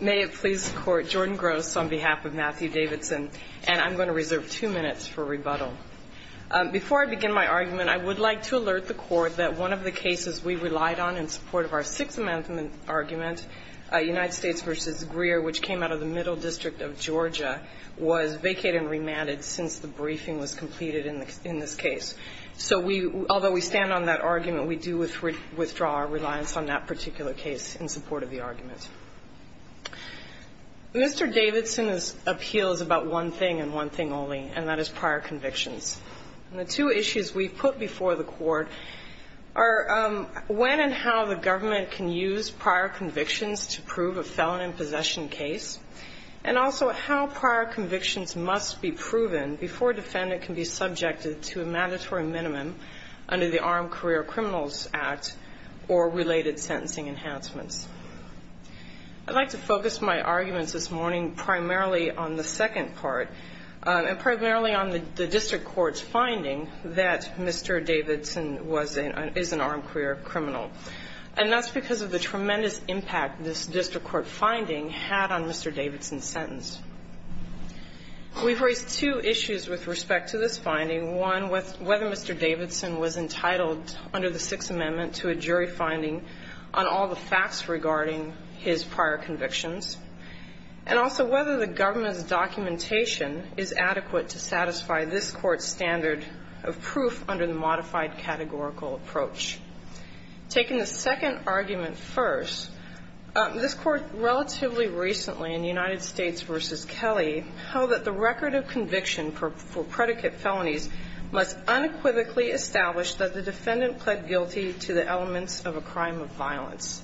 May it please the Court, Jordan Gross on behalf of Matthew Davidson, and I'm going to reserve two minutes for rebuttal. Before I begin my argument, I would like to alert the Court that one of the cases we relied on in support of our Sixth Amendment argument, United States v. Greer, which came out of the Middle District of Georgia, was vacated and remanded since the briefing was completed in this case. So we – although we stand on that argument, we do withdraw our reliance on that particular case in support of the argument. Mr. Davidson's appeal is about one thing and one thing only, and that is prior convictions. And the two issues we've put before the Court are when and how the government can use prior convictions to prove a felon in possession case, and also how prior convictions must be proven before a defendant can be subjected to a mandatory minimum under the Armed Career Criminals Act or related sentencing enhancements. I'd like to focus my arguments this morning primarily on the second part and primarily on the district court's finding that Mr. Davidson was an – had on Mr. Davidson's sentence. We've raised two issues with respect to this finding. One, whether Mr. Davidson was entitled under the Sixth Amendment to a jury finding on all the facts regarding his prior convictions, and also whether the government's documentation is adequate to satisfy this Court's standard of proof under the modified categorical approach. Taking the second argument first, this Court relatively recently, in United States v. Kelly, held that the record of conviction for predicate felonies must unequivocally establish that the defendant pled guilty to the elements of a crime of violence.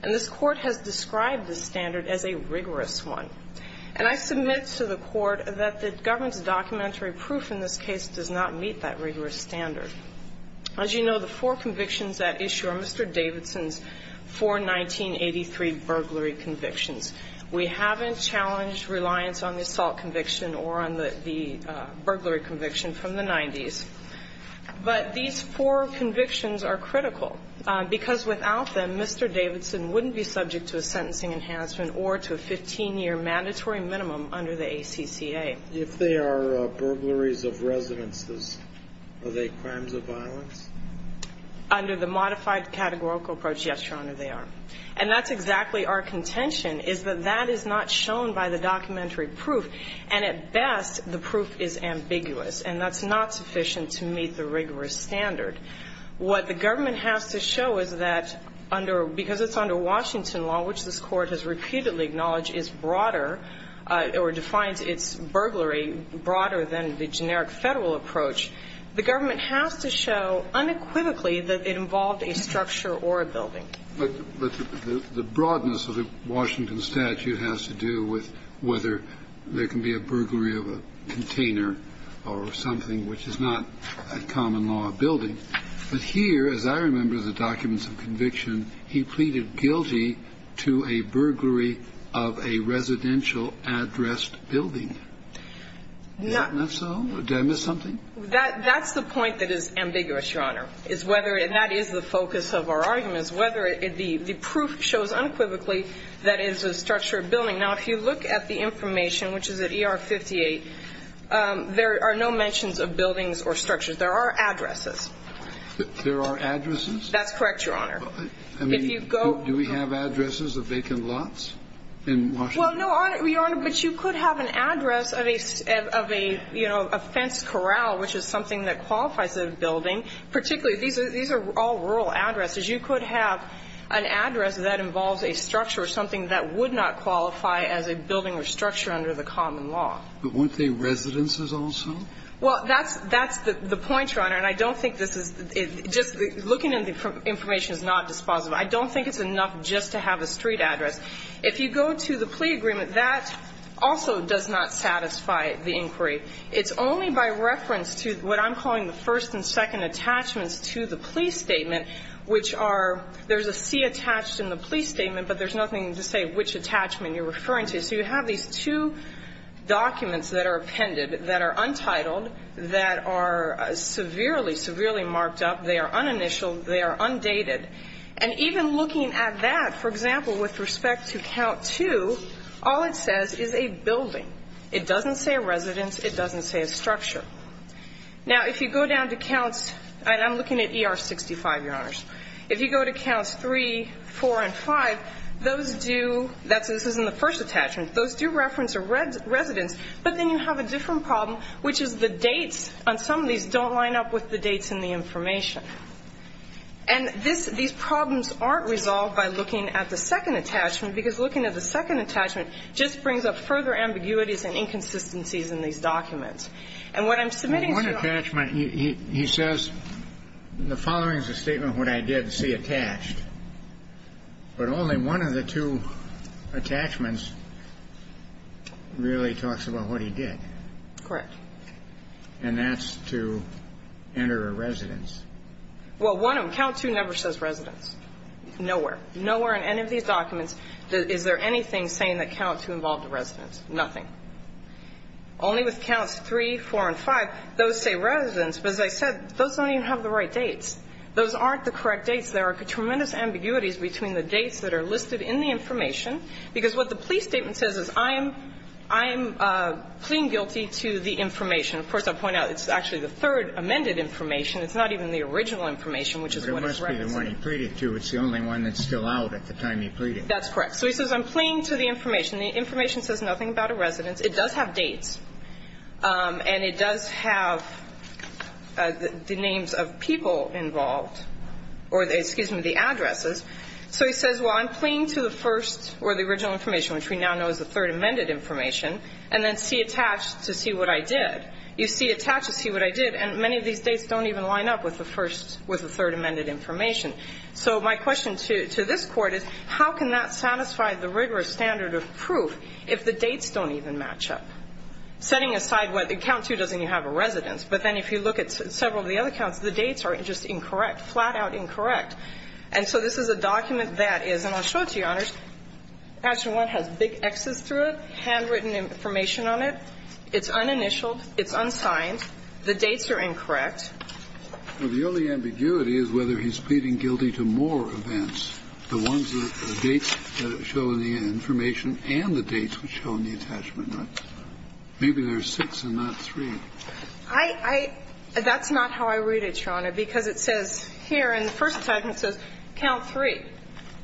And this Court has described the standard as a rigorous one. And I submit to the Court that the government's documentary proof in this case does not meet that rigorous standard. As you know, the four convictions at issue are Mr. Davidson's four 1983 burglary convictions. We haven't challenged reliance on the assault conviction or on the burglary conviction from the 90s. But these four convictions are critical because without them, Mr. Davidson wouldn't be subject to a sentencing enhancement or to a 15-year mandatory minimum under the ACCA. If they are burglaries of residences, are they crimes of violence? Under the modified categorical approach, yes, Your Honor, they are. And that's exactly our contention, is that that is not shown by the documentary proof. And at best, the proof is ambiguous, and that's not sufficient to meet the rigorous standard. What the government has to show is that because it's under Washington law, which this Court has repeatedly acknowledged is broader or defines its burglary broader than the generic Federal approach, the government has to show unequivocally that it involved a structure or a building. But the broadness of the Washington statute has to do with whether there can be a burglary of a container or something which is not a common law building. But here, as I remember the documents of conviction, he pleaded guilty to a burglary of a residential addressed building. Isn't that so? Did I miss something? That's the point that is ambiguous, Your Honor, is whether, and that is the focus of our argument, is whether the proof shows unequivocally that it is a structure or building. Now, if you look at the information, which is at ER 58, there are no mentions of buildings or structures. There are addresses. There are addresses? That's correct, Your Honor. I mean, do we have addresses of vacant lots in Washington? Well, no, Your Honor, but you could have an address of a, you know, a fence corral, which is something that qualifies as a building. Particularly, these are all rural addresses. You could have an address that involves a structure or something that would not qualify as a building or structure under the common law. But weren't they residences also? Well, that's the point, Your Honor. And I don't think this is, just looking at the information is not dispositive. I don't think it's enough just to have a street address. If you go to the plea agreement, that also does not satisfy the inquiry. It's only by reference to what I'm calling the first and second attachments to the plea statement, which are, there's a C attached in the plea statement, but there's nothing to say which attachment you're referring to. So you have these two documents that are appended that are untitled, that are severely, severely marked up. They are uninitialed. They are undated. And even looking at that, for example, with respect to count two, all it says is a building. It doesn't say a residence. It doesn't say a structure. Now, if you go down to counts, and I'm looking at ER 65, Your Honors. If you go to counts three, four, and five, those do, this is in the first attachment, those do reference a residence. But then you have a different problem, which is the dates on some of these don't line up with the dates in the information. And this, these problems aren't resolved by looking at the second attachment, because looking at the second attachment just brings up further ambiguities and inconsistencies in these documents. And what I'm submitting to you on. One attachment, he says, the following is a statement of what I did, C attached. But only one of the two attachments really talks about what he did. Correct. And that's to enter a residence. Well, one of them, count two never says residence. Nowhere. Nowhere in any of these documents is there anything saying that count two involved a residence. Nothing. Only with counts three, four, and five, those say residence. But as I said, those don't even have the right dates. Those aren't the correct dates. What he says is there are tremendous ambiguities between the dates that are listed in the information. Because what the plea statement says is I am, I am pleading guilty to the information. Of course, I'll point out it's actually the third amended information. It's not even the original information, which is what it's referencing. But it must be the one he pleaded to. It's the only one that's still out at the time he pleaded. That's correct. So he says I'm pleading to the information. The information says nothing about a residence. It does have dates. And it does have the names of people involved or, excuse me, the addresses. So he says, well, I'm pleading to the first or the original information, which we now know is the third amended information, and then see attached to see what I did. You see attached to see what I did. And many of these dates don't even line up with the first, with the third amended information. So my question to this Court is how can that satisfy the rigorous standard of proof if the dates don't even match up? Setting aside what account two doesn't even have a residence. But then if you look at several of the other accounts, the dates are just incorrect, flat-out incorrect. And so this is a document that is, and I'll show it to you, Your Honors, Attachment 1 has big X's through it, handwritten information on it. It's uninitialed. It's unsigned. The dates are incorrect. Well, the only ambiguity is whether he's pleading guilty to more events, the ones that show the information and the dates which show in the attachment. Maybe there are six and not three. I, I, that's not how I read it, Your Honor, because it says here in the first attachment, it says count three.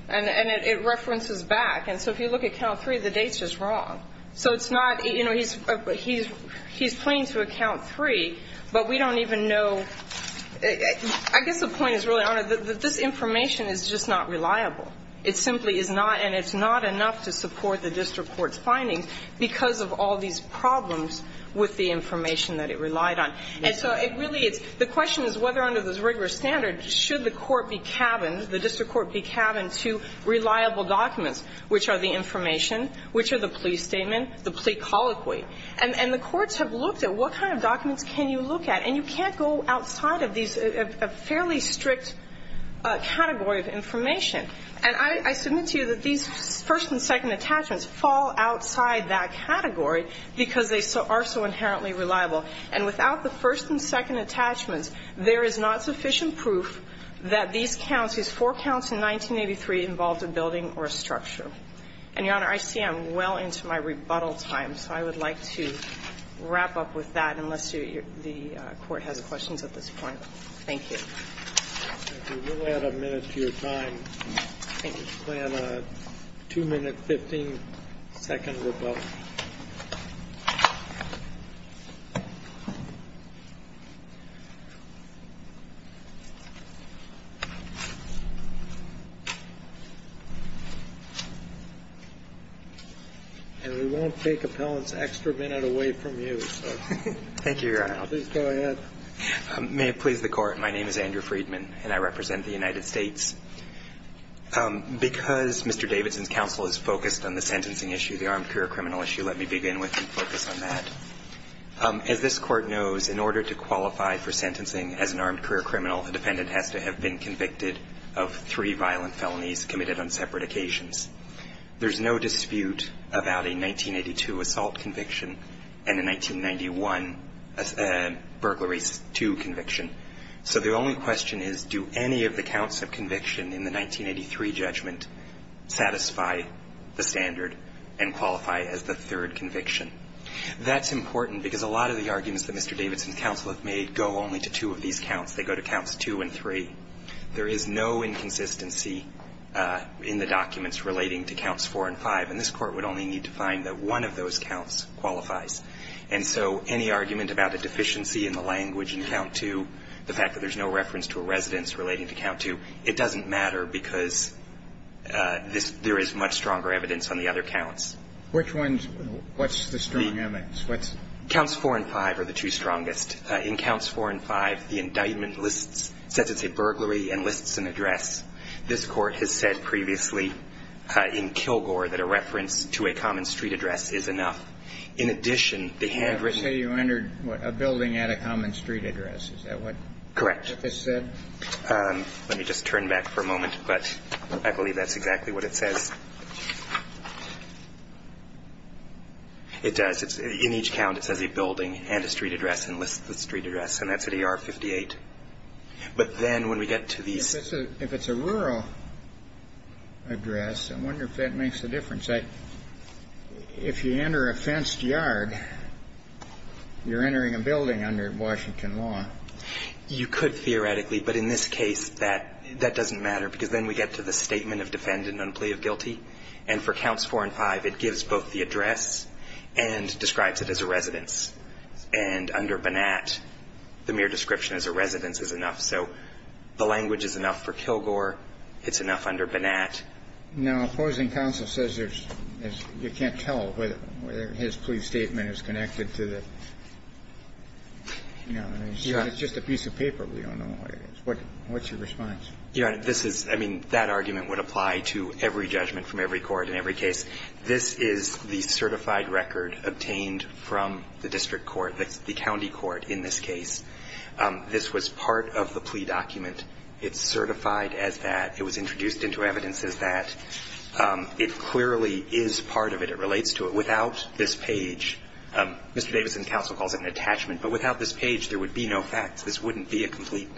And it references back. And so if you look at count three, the date's just wrong. So it's not, you know, he's, he's, he's pleading to account three, but we don't even know. I guess the point is really, Your Honor, that this information is just not reliable. It simply is not, and it's not enough to support the district court's findings because of all these problems with the information that it relied on. And so it really is, the question is whether under this rigorous standard, should the court be cabined, the district court be cabined to reliable documents, which are the information, which are the plea statement, the plea colloquy. And, and the courts have looked at what kind of documents can you look at. And you can't go outside of these, a, a fairly strict category of information. And I, I submit to you that these first and second attachments fall outside that category because they so, are so inherently reliable. And without the first and second attachments, there is not sufficient proof that these counts, these four counts in 1983 involved a building or a structure. And, Your Honor, I see I'm well into my rebuttal time, so I would like to wrap up with that, unless you, the court has questions at this point. Thank you. We will add a minute to your time. I think it's planned a 2 minute, 15 second rebuttal. And we won't take appellant's extra minute away from you, so. Thank you, Your Honor. Please go ahead. May it please the Court. My name is Andrew Freedman, and I represent the United States. Because Mr. Davidson's counsel is focused on the sentencing issue, the armed career criminal issue, let me begin with and focus on that. As this Court knows, in order to qualify for sentencing as an armed career criminal, the defendant has to have been convicted of three violent felonies committed on separate occasions. There's no dispute about a 1982 assault conviction and a 1991 burglary case 2 conviction. So the only question is, do any of the counts of conviction in the 1983 judgment satisfy the standard and qualify as the third conviction? That's important, because a lot of the arguments that Mr. Davidson's counsel have made go only to two of these counts. They go to counts 2 and 3. There is no inconsistency in the documents relating to counts 4 and 5, and this Court would only need to find that one of those counts qualifies. And so any argument about a deficiency in the language in count 2, the fact that there's no reference to a residence relating to count 2, it doesn't matter because there is much stronger evidence on the other counts. Which ones? What's the strong evidence? Counts 4 and 5 are the two strongest. In counts 4 and 5, the indictment lists, says it's a burglary, and lists an address. This Court has said previously in Kilgore that a reference to a common street address is enough. In addition, the handwritten ---- I say you entered a building at a common street address. Is that what this said? Correct. Let me just turn back for a moment. But I believe that's exactly what it says. It does. In each count, it says a building and a street address and lists the street address. And that's at AR 58. But then when we get to these ---- If it's a rural address, I wonder if that makes a difference. If you enter a fenced yard, you're entering a building under Washington law. You could theoretically. But in this case, that doesn't matter because then we get to the statement of defendant on plea of guilty. And for counts 4 and 5, it gives both the address and describes it as a residence. And under Bonat, the mere description as a residence is enough. So the language is enough for Kilgore. It's enough under Bonat. Now, opposing counsel says you can't tell whether his plea statement is connected to the ---- Yeah. It's just a piece of paper. We don't know what it is. What's your response? Your Honor, this is ---- I mean, that argument would apply to every judgment from every court in every case. This is the certified record obtained from the district court, the county court in this case. This was part of the plea document. It's certified as that. It was introduced into evidence as that. It clearly is part of it. It relates to it. Without this page, Mr. Davidson's counsel calls it an attachment. But without this page, there would be no facts. This wouldn't be a complete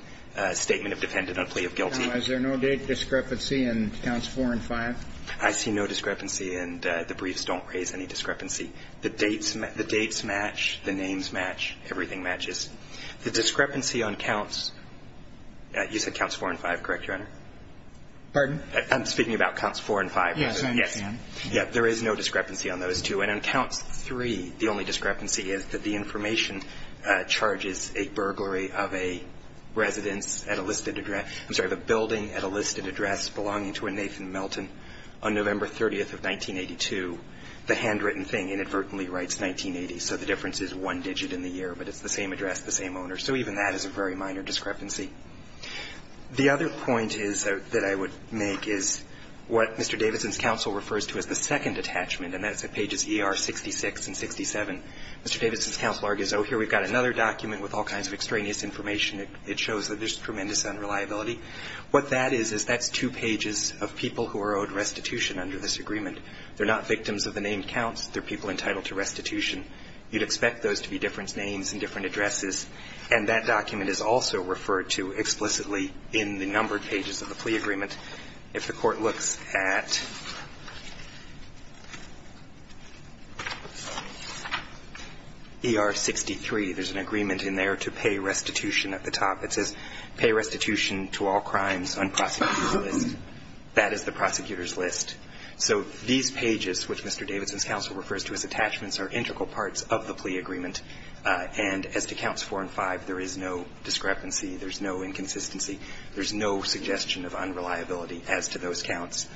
statement of defendant on plea of guilty. Now, is there no date discrepancy in counts 4 and 5? I see no discrepancy, and the briefs don't raise any discrepancy. The dates match. The names match. Everything matches. The discrepancy on counts ---- you said counts 4 and 5, correct, Your Honor? Pardon? I'm speaking about counts 4 and 5. Yes, I understand. Yes. There is no discrepancy on those two. And on counts 3, the only discrepancy is that the information charges a burglary of a residence at a listed address ---- I'm sorry, of a building at a listed address belonging to a Nathan Melton on November 30th of 1982. The handwritten thing inadvertently writes 1980, so the difference is one digit in the year, but it's the same address, the same owner. So even that is a very minor discrepancy. The other point is that I would make is what Mr. Davidson's counsel refers to as the second attachment, and that's at pages ER66 and 67. Mr. Davidson's counsel argues, oh, here we've got another document with all kinds of extraneous information. It shows that there's tremendous unreliability. What that is is that's two pages of people who are owed restitution under this agreement. They're not victims of the named counts. They're people entitled to restitution. You'd expect those to be different names and different addresses, and that document is also referred to explicitly in the numbered pages of the plea agreement. If the Court looks at ER63, there's an agreement in there to pay restitution at the top. It says, pay restitution to all crimes on prosecutor's list. That is the prosecutor's list. So these pages, which Mr. Davidson's counsel refers to as attachments, are integral parts of the plea agreement. And as to counts 4 and 5, there is no discrepancy. There's no inconsistency. There's no suggestion of unreliability as to those counts.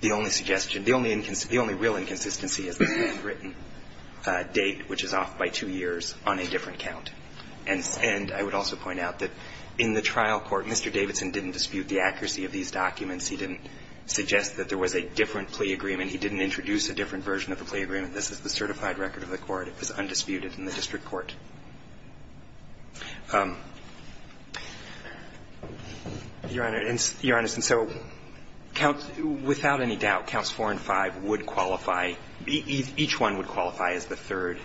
The only suggestion, the only real inconsistency is the handwritten date, which is off by two years on a different count. And I would also point out that in the trial court, Mr. Davidson didn't dispute the accuracy of these documents. He didn't suggest that there was a different plea agreement. He didn't introduce a different version of the plea agreement. This is the certified record of the court. It was undisputed. It's in the district court. Your Honor, and so, without any doubt, counts 4 and 5 would qualify, each one would qualify as the third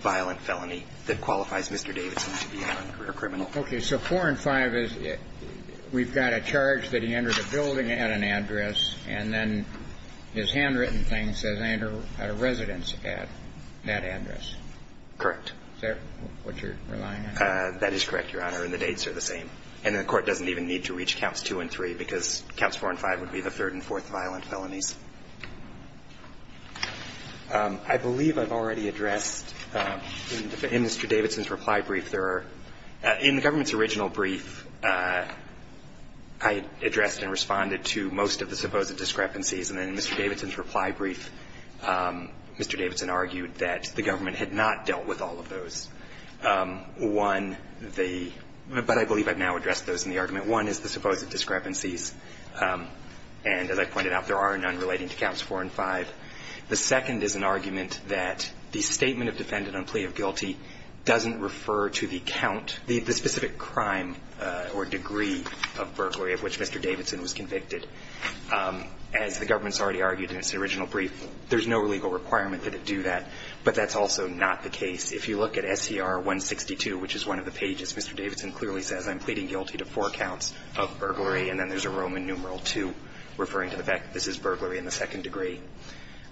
violent felony that qualifies Mr. Davidson to be a non-career criminal. Okay. So 4 and 5 is we've got a charge that he entered a building at an address, and then his handwritten thing says he had a residence at that address. Correct. Is that what you're relying on? That is correct, Your Honor, and the dates are the same. And the court doesn't even need to reach counts 2 and 3, because counts 4 and 5 would be the third and fourth violent felonies. I believe I've already addressed in Mr. Davidson's reply brief there are, in the government's original brief, I addressed and responded to most of the supposed discrepancies. And then in Mr. Davidson's reply brief, Mr. Davidson argued that the government had not dealt with all of those. One, the – but I believe I've now addressed those in the argument. One is the supposed discrepancies, and as I pointed out, there are none relating to counts 4 and 5. The second is an argument that the statement of defendant on plea of guilty doesn't refer to the count, the specific crime or degree of burglary of which Mr. Davidson was convicted. As the government's already argued in its original brief, there's no legal requirement that it do that, but that's also not the case. If you look at SCR 162, which is one of the pages, Mr. Davidson clearly says I'm pleading guilty to four counts of burglary, and then there's a Roman numeral 2 referring to the fact that this is burglary in the second degree.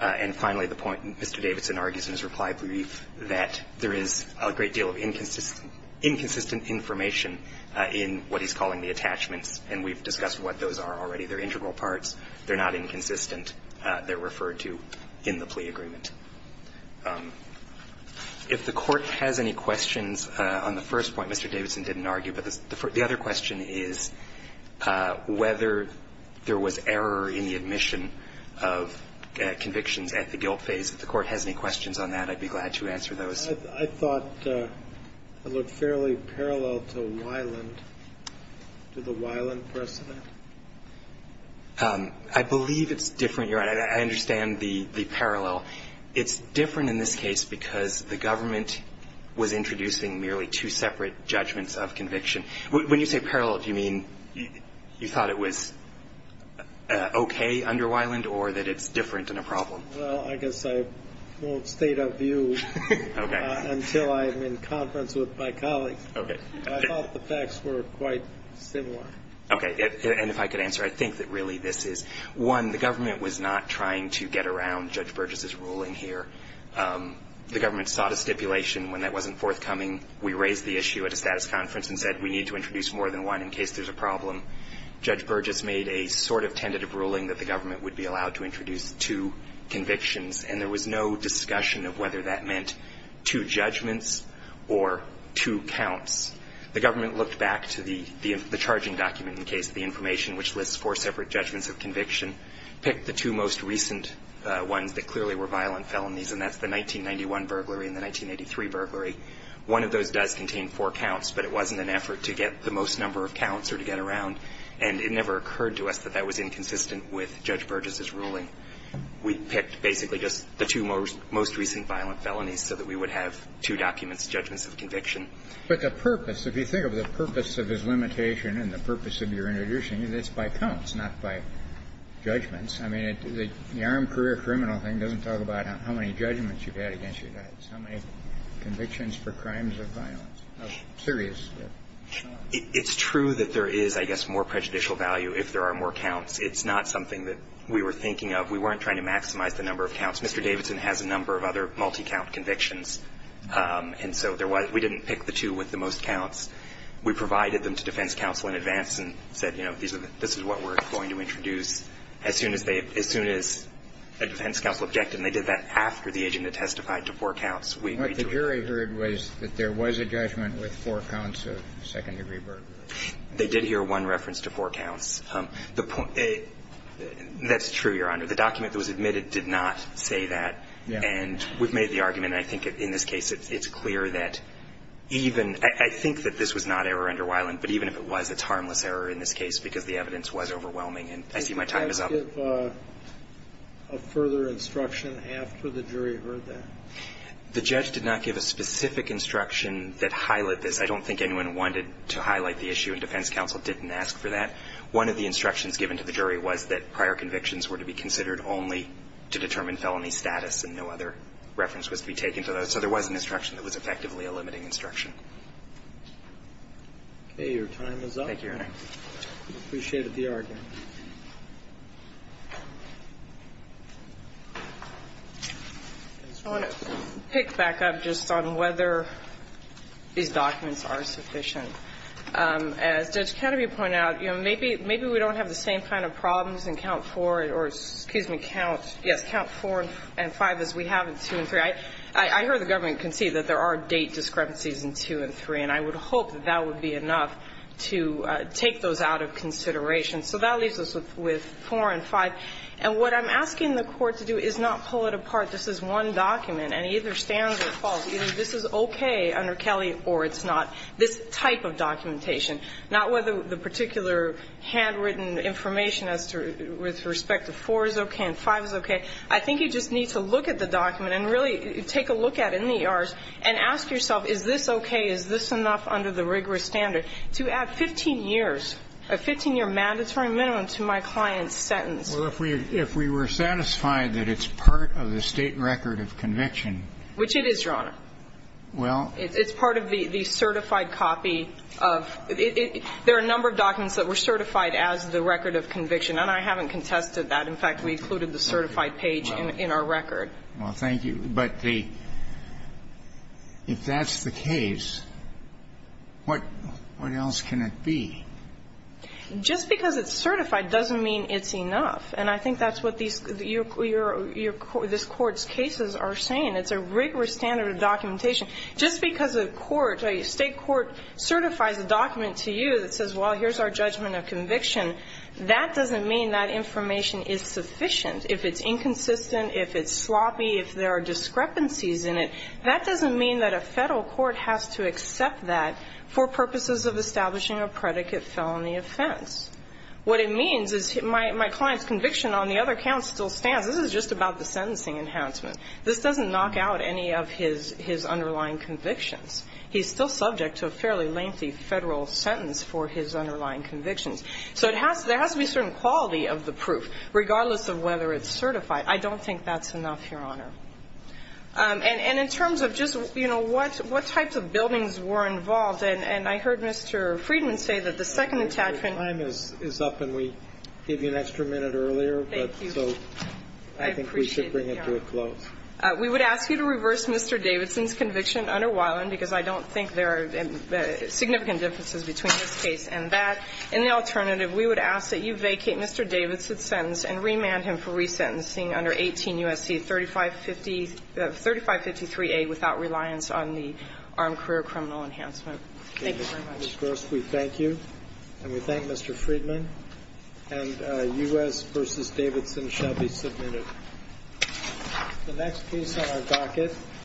And finally, the point Mr. Davidson argues in his reply brief that there is a great deal of inconsistent – inconsistent information in what he's calling the attachments, and we've discussed what those are already. They're integral parts. They're not inconsistent. They're referred to in the plea agreement. If the Court has any questions on the first point Mr. Davidson didn't argue, but the other question is whether there was error in the admission of convictions at the guilt phase. If the Court has any questions on that, I'd be glad to answer those. I thought it looked fairly parallel to Weiland, to the Weiland precedent. I believe it's different. Your Honor, I understand the parallel. It's different in this case because the government was introducing merely two separate judgments of conviction. When you say parallel, do you mean you thought it was okay under Weiland or that it's different and a problem? Well, I guess I won't state a view until I'm in conference with my colleagues. Okay. I thought the facts were quite similar. Okay. And if I could answer, I think that really this is, one, the government was not trying to get around Judge Burgess's ruling here. The government sought a stipulation when that wasn't forthcoming. We raised the issue at a status conference and said we need to introduce more than one in case there's a problem. Judge Burgess made a sort of tentative ruling that the government would be allowed to introduce two convictions. And there was no discussion of whether that meant two judgments or two counts. The government looked back to the charging document in the case of the information which lists four separate judgments of conviction, picked the two most recent ones that clearly were violent felonies, and that's the 1991 burglary and the 1983 burglary. One of those does contain four counts, but it wasn't an effort to get the most number of counts or to get around. And it never occurred to us that that was inconsistent with Judge Burgess's ruling. We picked basically just the two most recent violent felonies so that we would have two documents, judgments of conviction. But the purpose, if you think of the purpose of his limitation and the purpose of your introducing it, it's by counts, not by judgments. I mean, the armed career criminal thing doesn't talk about how many judgments you've had against your dad. It's how many convictions for crimes of violence, of serious. It's true that there is, I guess, more prejudicial value if there are more counts. It's not something that we were thinking of. We weren't trying to maximize the number of counts. Mr. Davidson has a number of other multi-count convictions. And so there was we didn't pick the two with the most counts. We provided them to defense counsel in advance and said, you know, this is what we're going to introduce. As soon as they, as soon as a defense counsel objected, and they did that after the agent had testified to four counts, we agreed to it. What the jury heard was that there was a judgment with four counts of second-degree burglary. They did hear one reference to four counts. The point, that's true, Your Honor. The document that was admitted did not say that. And we've made the argument, and I think in this case it's clear that even, I think that this was not error under Weiland, but even if it was, it's harmless error in this case because the evidence was overwhelming. And I see my time is up. Did the judge give a further instruction after the jury heard that? The judge did not give a specific instruction that highlighted this. I don't think anyone wanted to highlight the issue, and defense counsel didn't ask for that. One of the instructions given to the jury was that prior convictions were to be considered only to determine felony status, and no other reference was to be taken to that. So there was an instruction that was effectively a limiting instruction. Okay. Your time is up. Thank you, Your Honor. We appreciated the argument. I want to pick back up just on whether these documents are sufficient. As Judge Kadaby pointed out, you know, maybe we don't have the same kind of problems in count four or, excuse me, count, yes, count four and five as we have in two and three. I heard the government concede that there are date discrepancies in two and three, and I would hope that that would be enough to take those out of consideration. So that leaves us with four and five. And what I'm asking the Court to do is not pull it apart. This is one document, and either stands or falls. Either this is okay under Kelley or it's not, this type of documentation. Not whether the particular handwritten information as to, with respect to four is okay and five is okay. I think you just need to look at the document and really take a look at it in the And I will say that I'm not satisfied that this is the only document that is enough under the rigorous standard to add 15 years, a 15-year mandatory minimum to my client's sentence. Well, if we were satisfied that it's part of the State record of conviction. Which it is, Your Honor. Well. It's part of the certified copy of the ‑‑ there are a number of documents that were certified as the record of conviction, and I haven't contested that. What else can it be? Just because it's certified doesn't mean it's enough. And I think that's what this Court's cases are saying. It's a rigorous standard of documentation. Just because a court, a State court certifies a document to you that says, well, here's our judgment of conviction, that doesn't mean that information is sufficient. If it's inconsistent, if it's sloppy, if there are discrepancies in it, that doesn't mean that a Federal court has to accept that for purposes of establishing a predicate felony offense. What it means is my client's conviction on the other count still stands. This is just about the sentencing enhancement. This doesn't knock out any of his underlying convictions. He's still subject to a fairly lengthy Federal sentence for his underlying convictions. So there has to be a certain quality of the proof, regardless of whether it's certified. I don't think that's enough, Your Honor. And in terms of just, you know, what types of buildings were involved, and I heard Mr. Friedman say that the second attachment. Your time is up, and we gave you an extra minute earlier. Thank you. So I think we should bring it to a close. I appreciate it, Your Honor. We would ask you to reverse Mr. Davidson's conviction under Weiland, because I don't think there are significant differences between this case and that. And the alternative, we would ask that you vacate Mr. Davidson's sentence and remand him for resentencing under 18 U.S.C. 3553A without reliance on the armed career criminal enhancement. Thank you very much. Ms. Gross, we thank you, and we thank Mr. Friedman. And U.S. v. Davidson shall be submitted. The next case on our docket.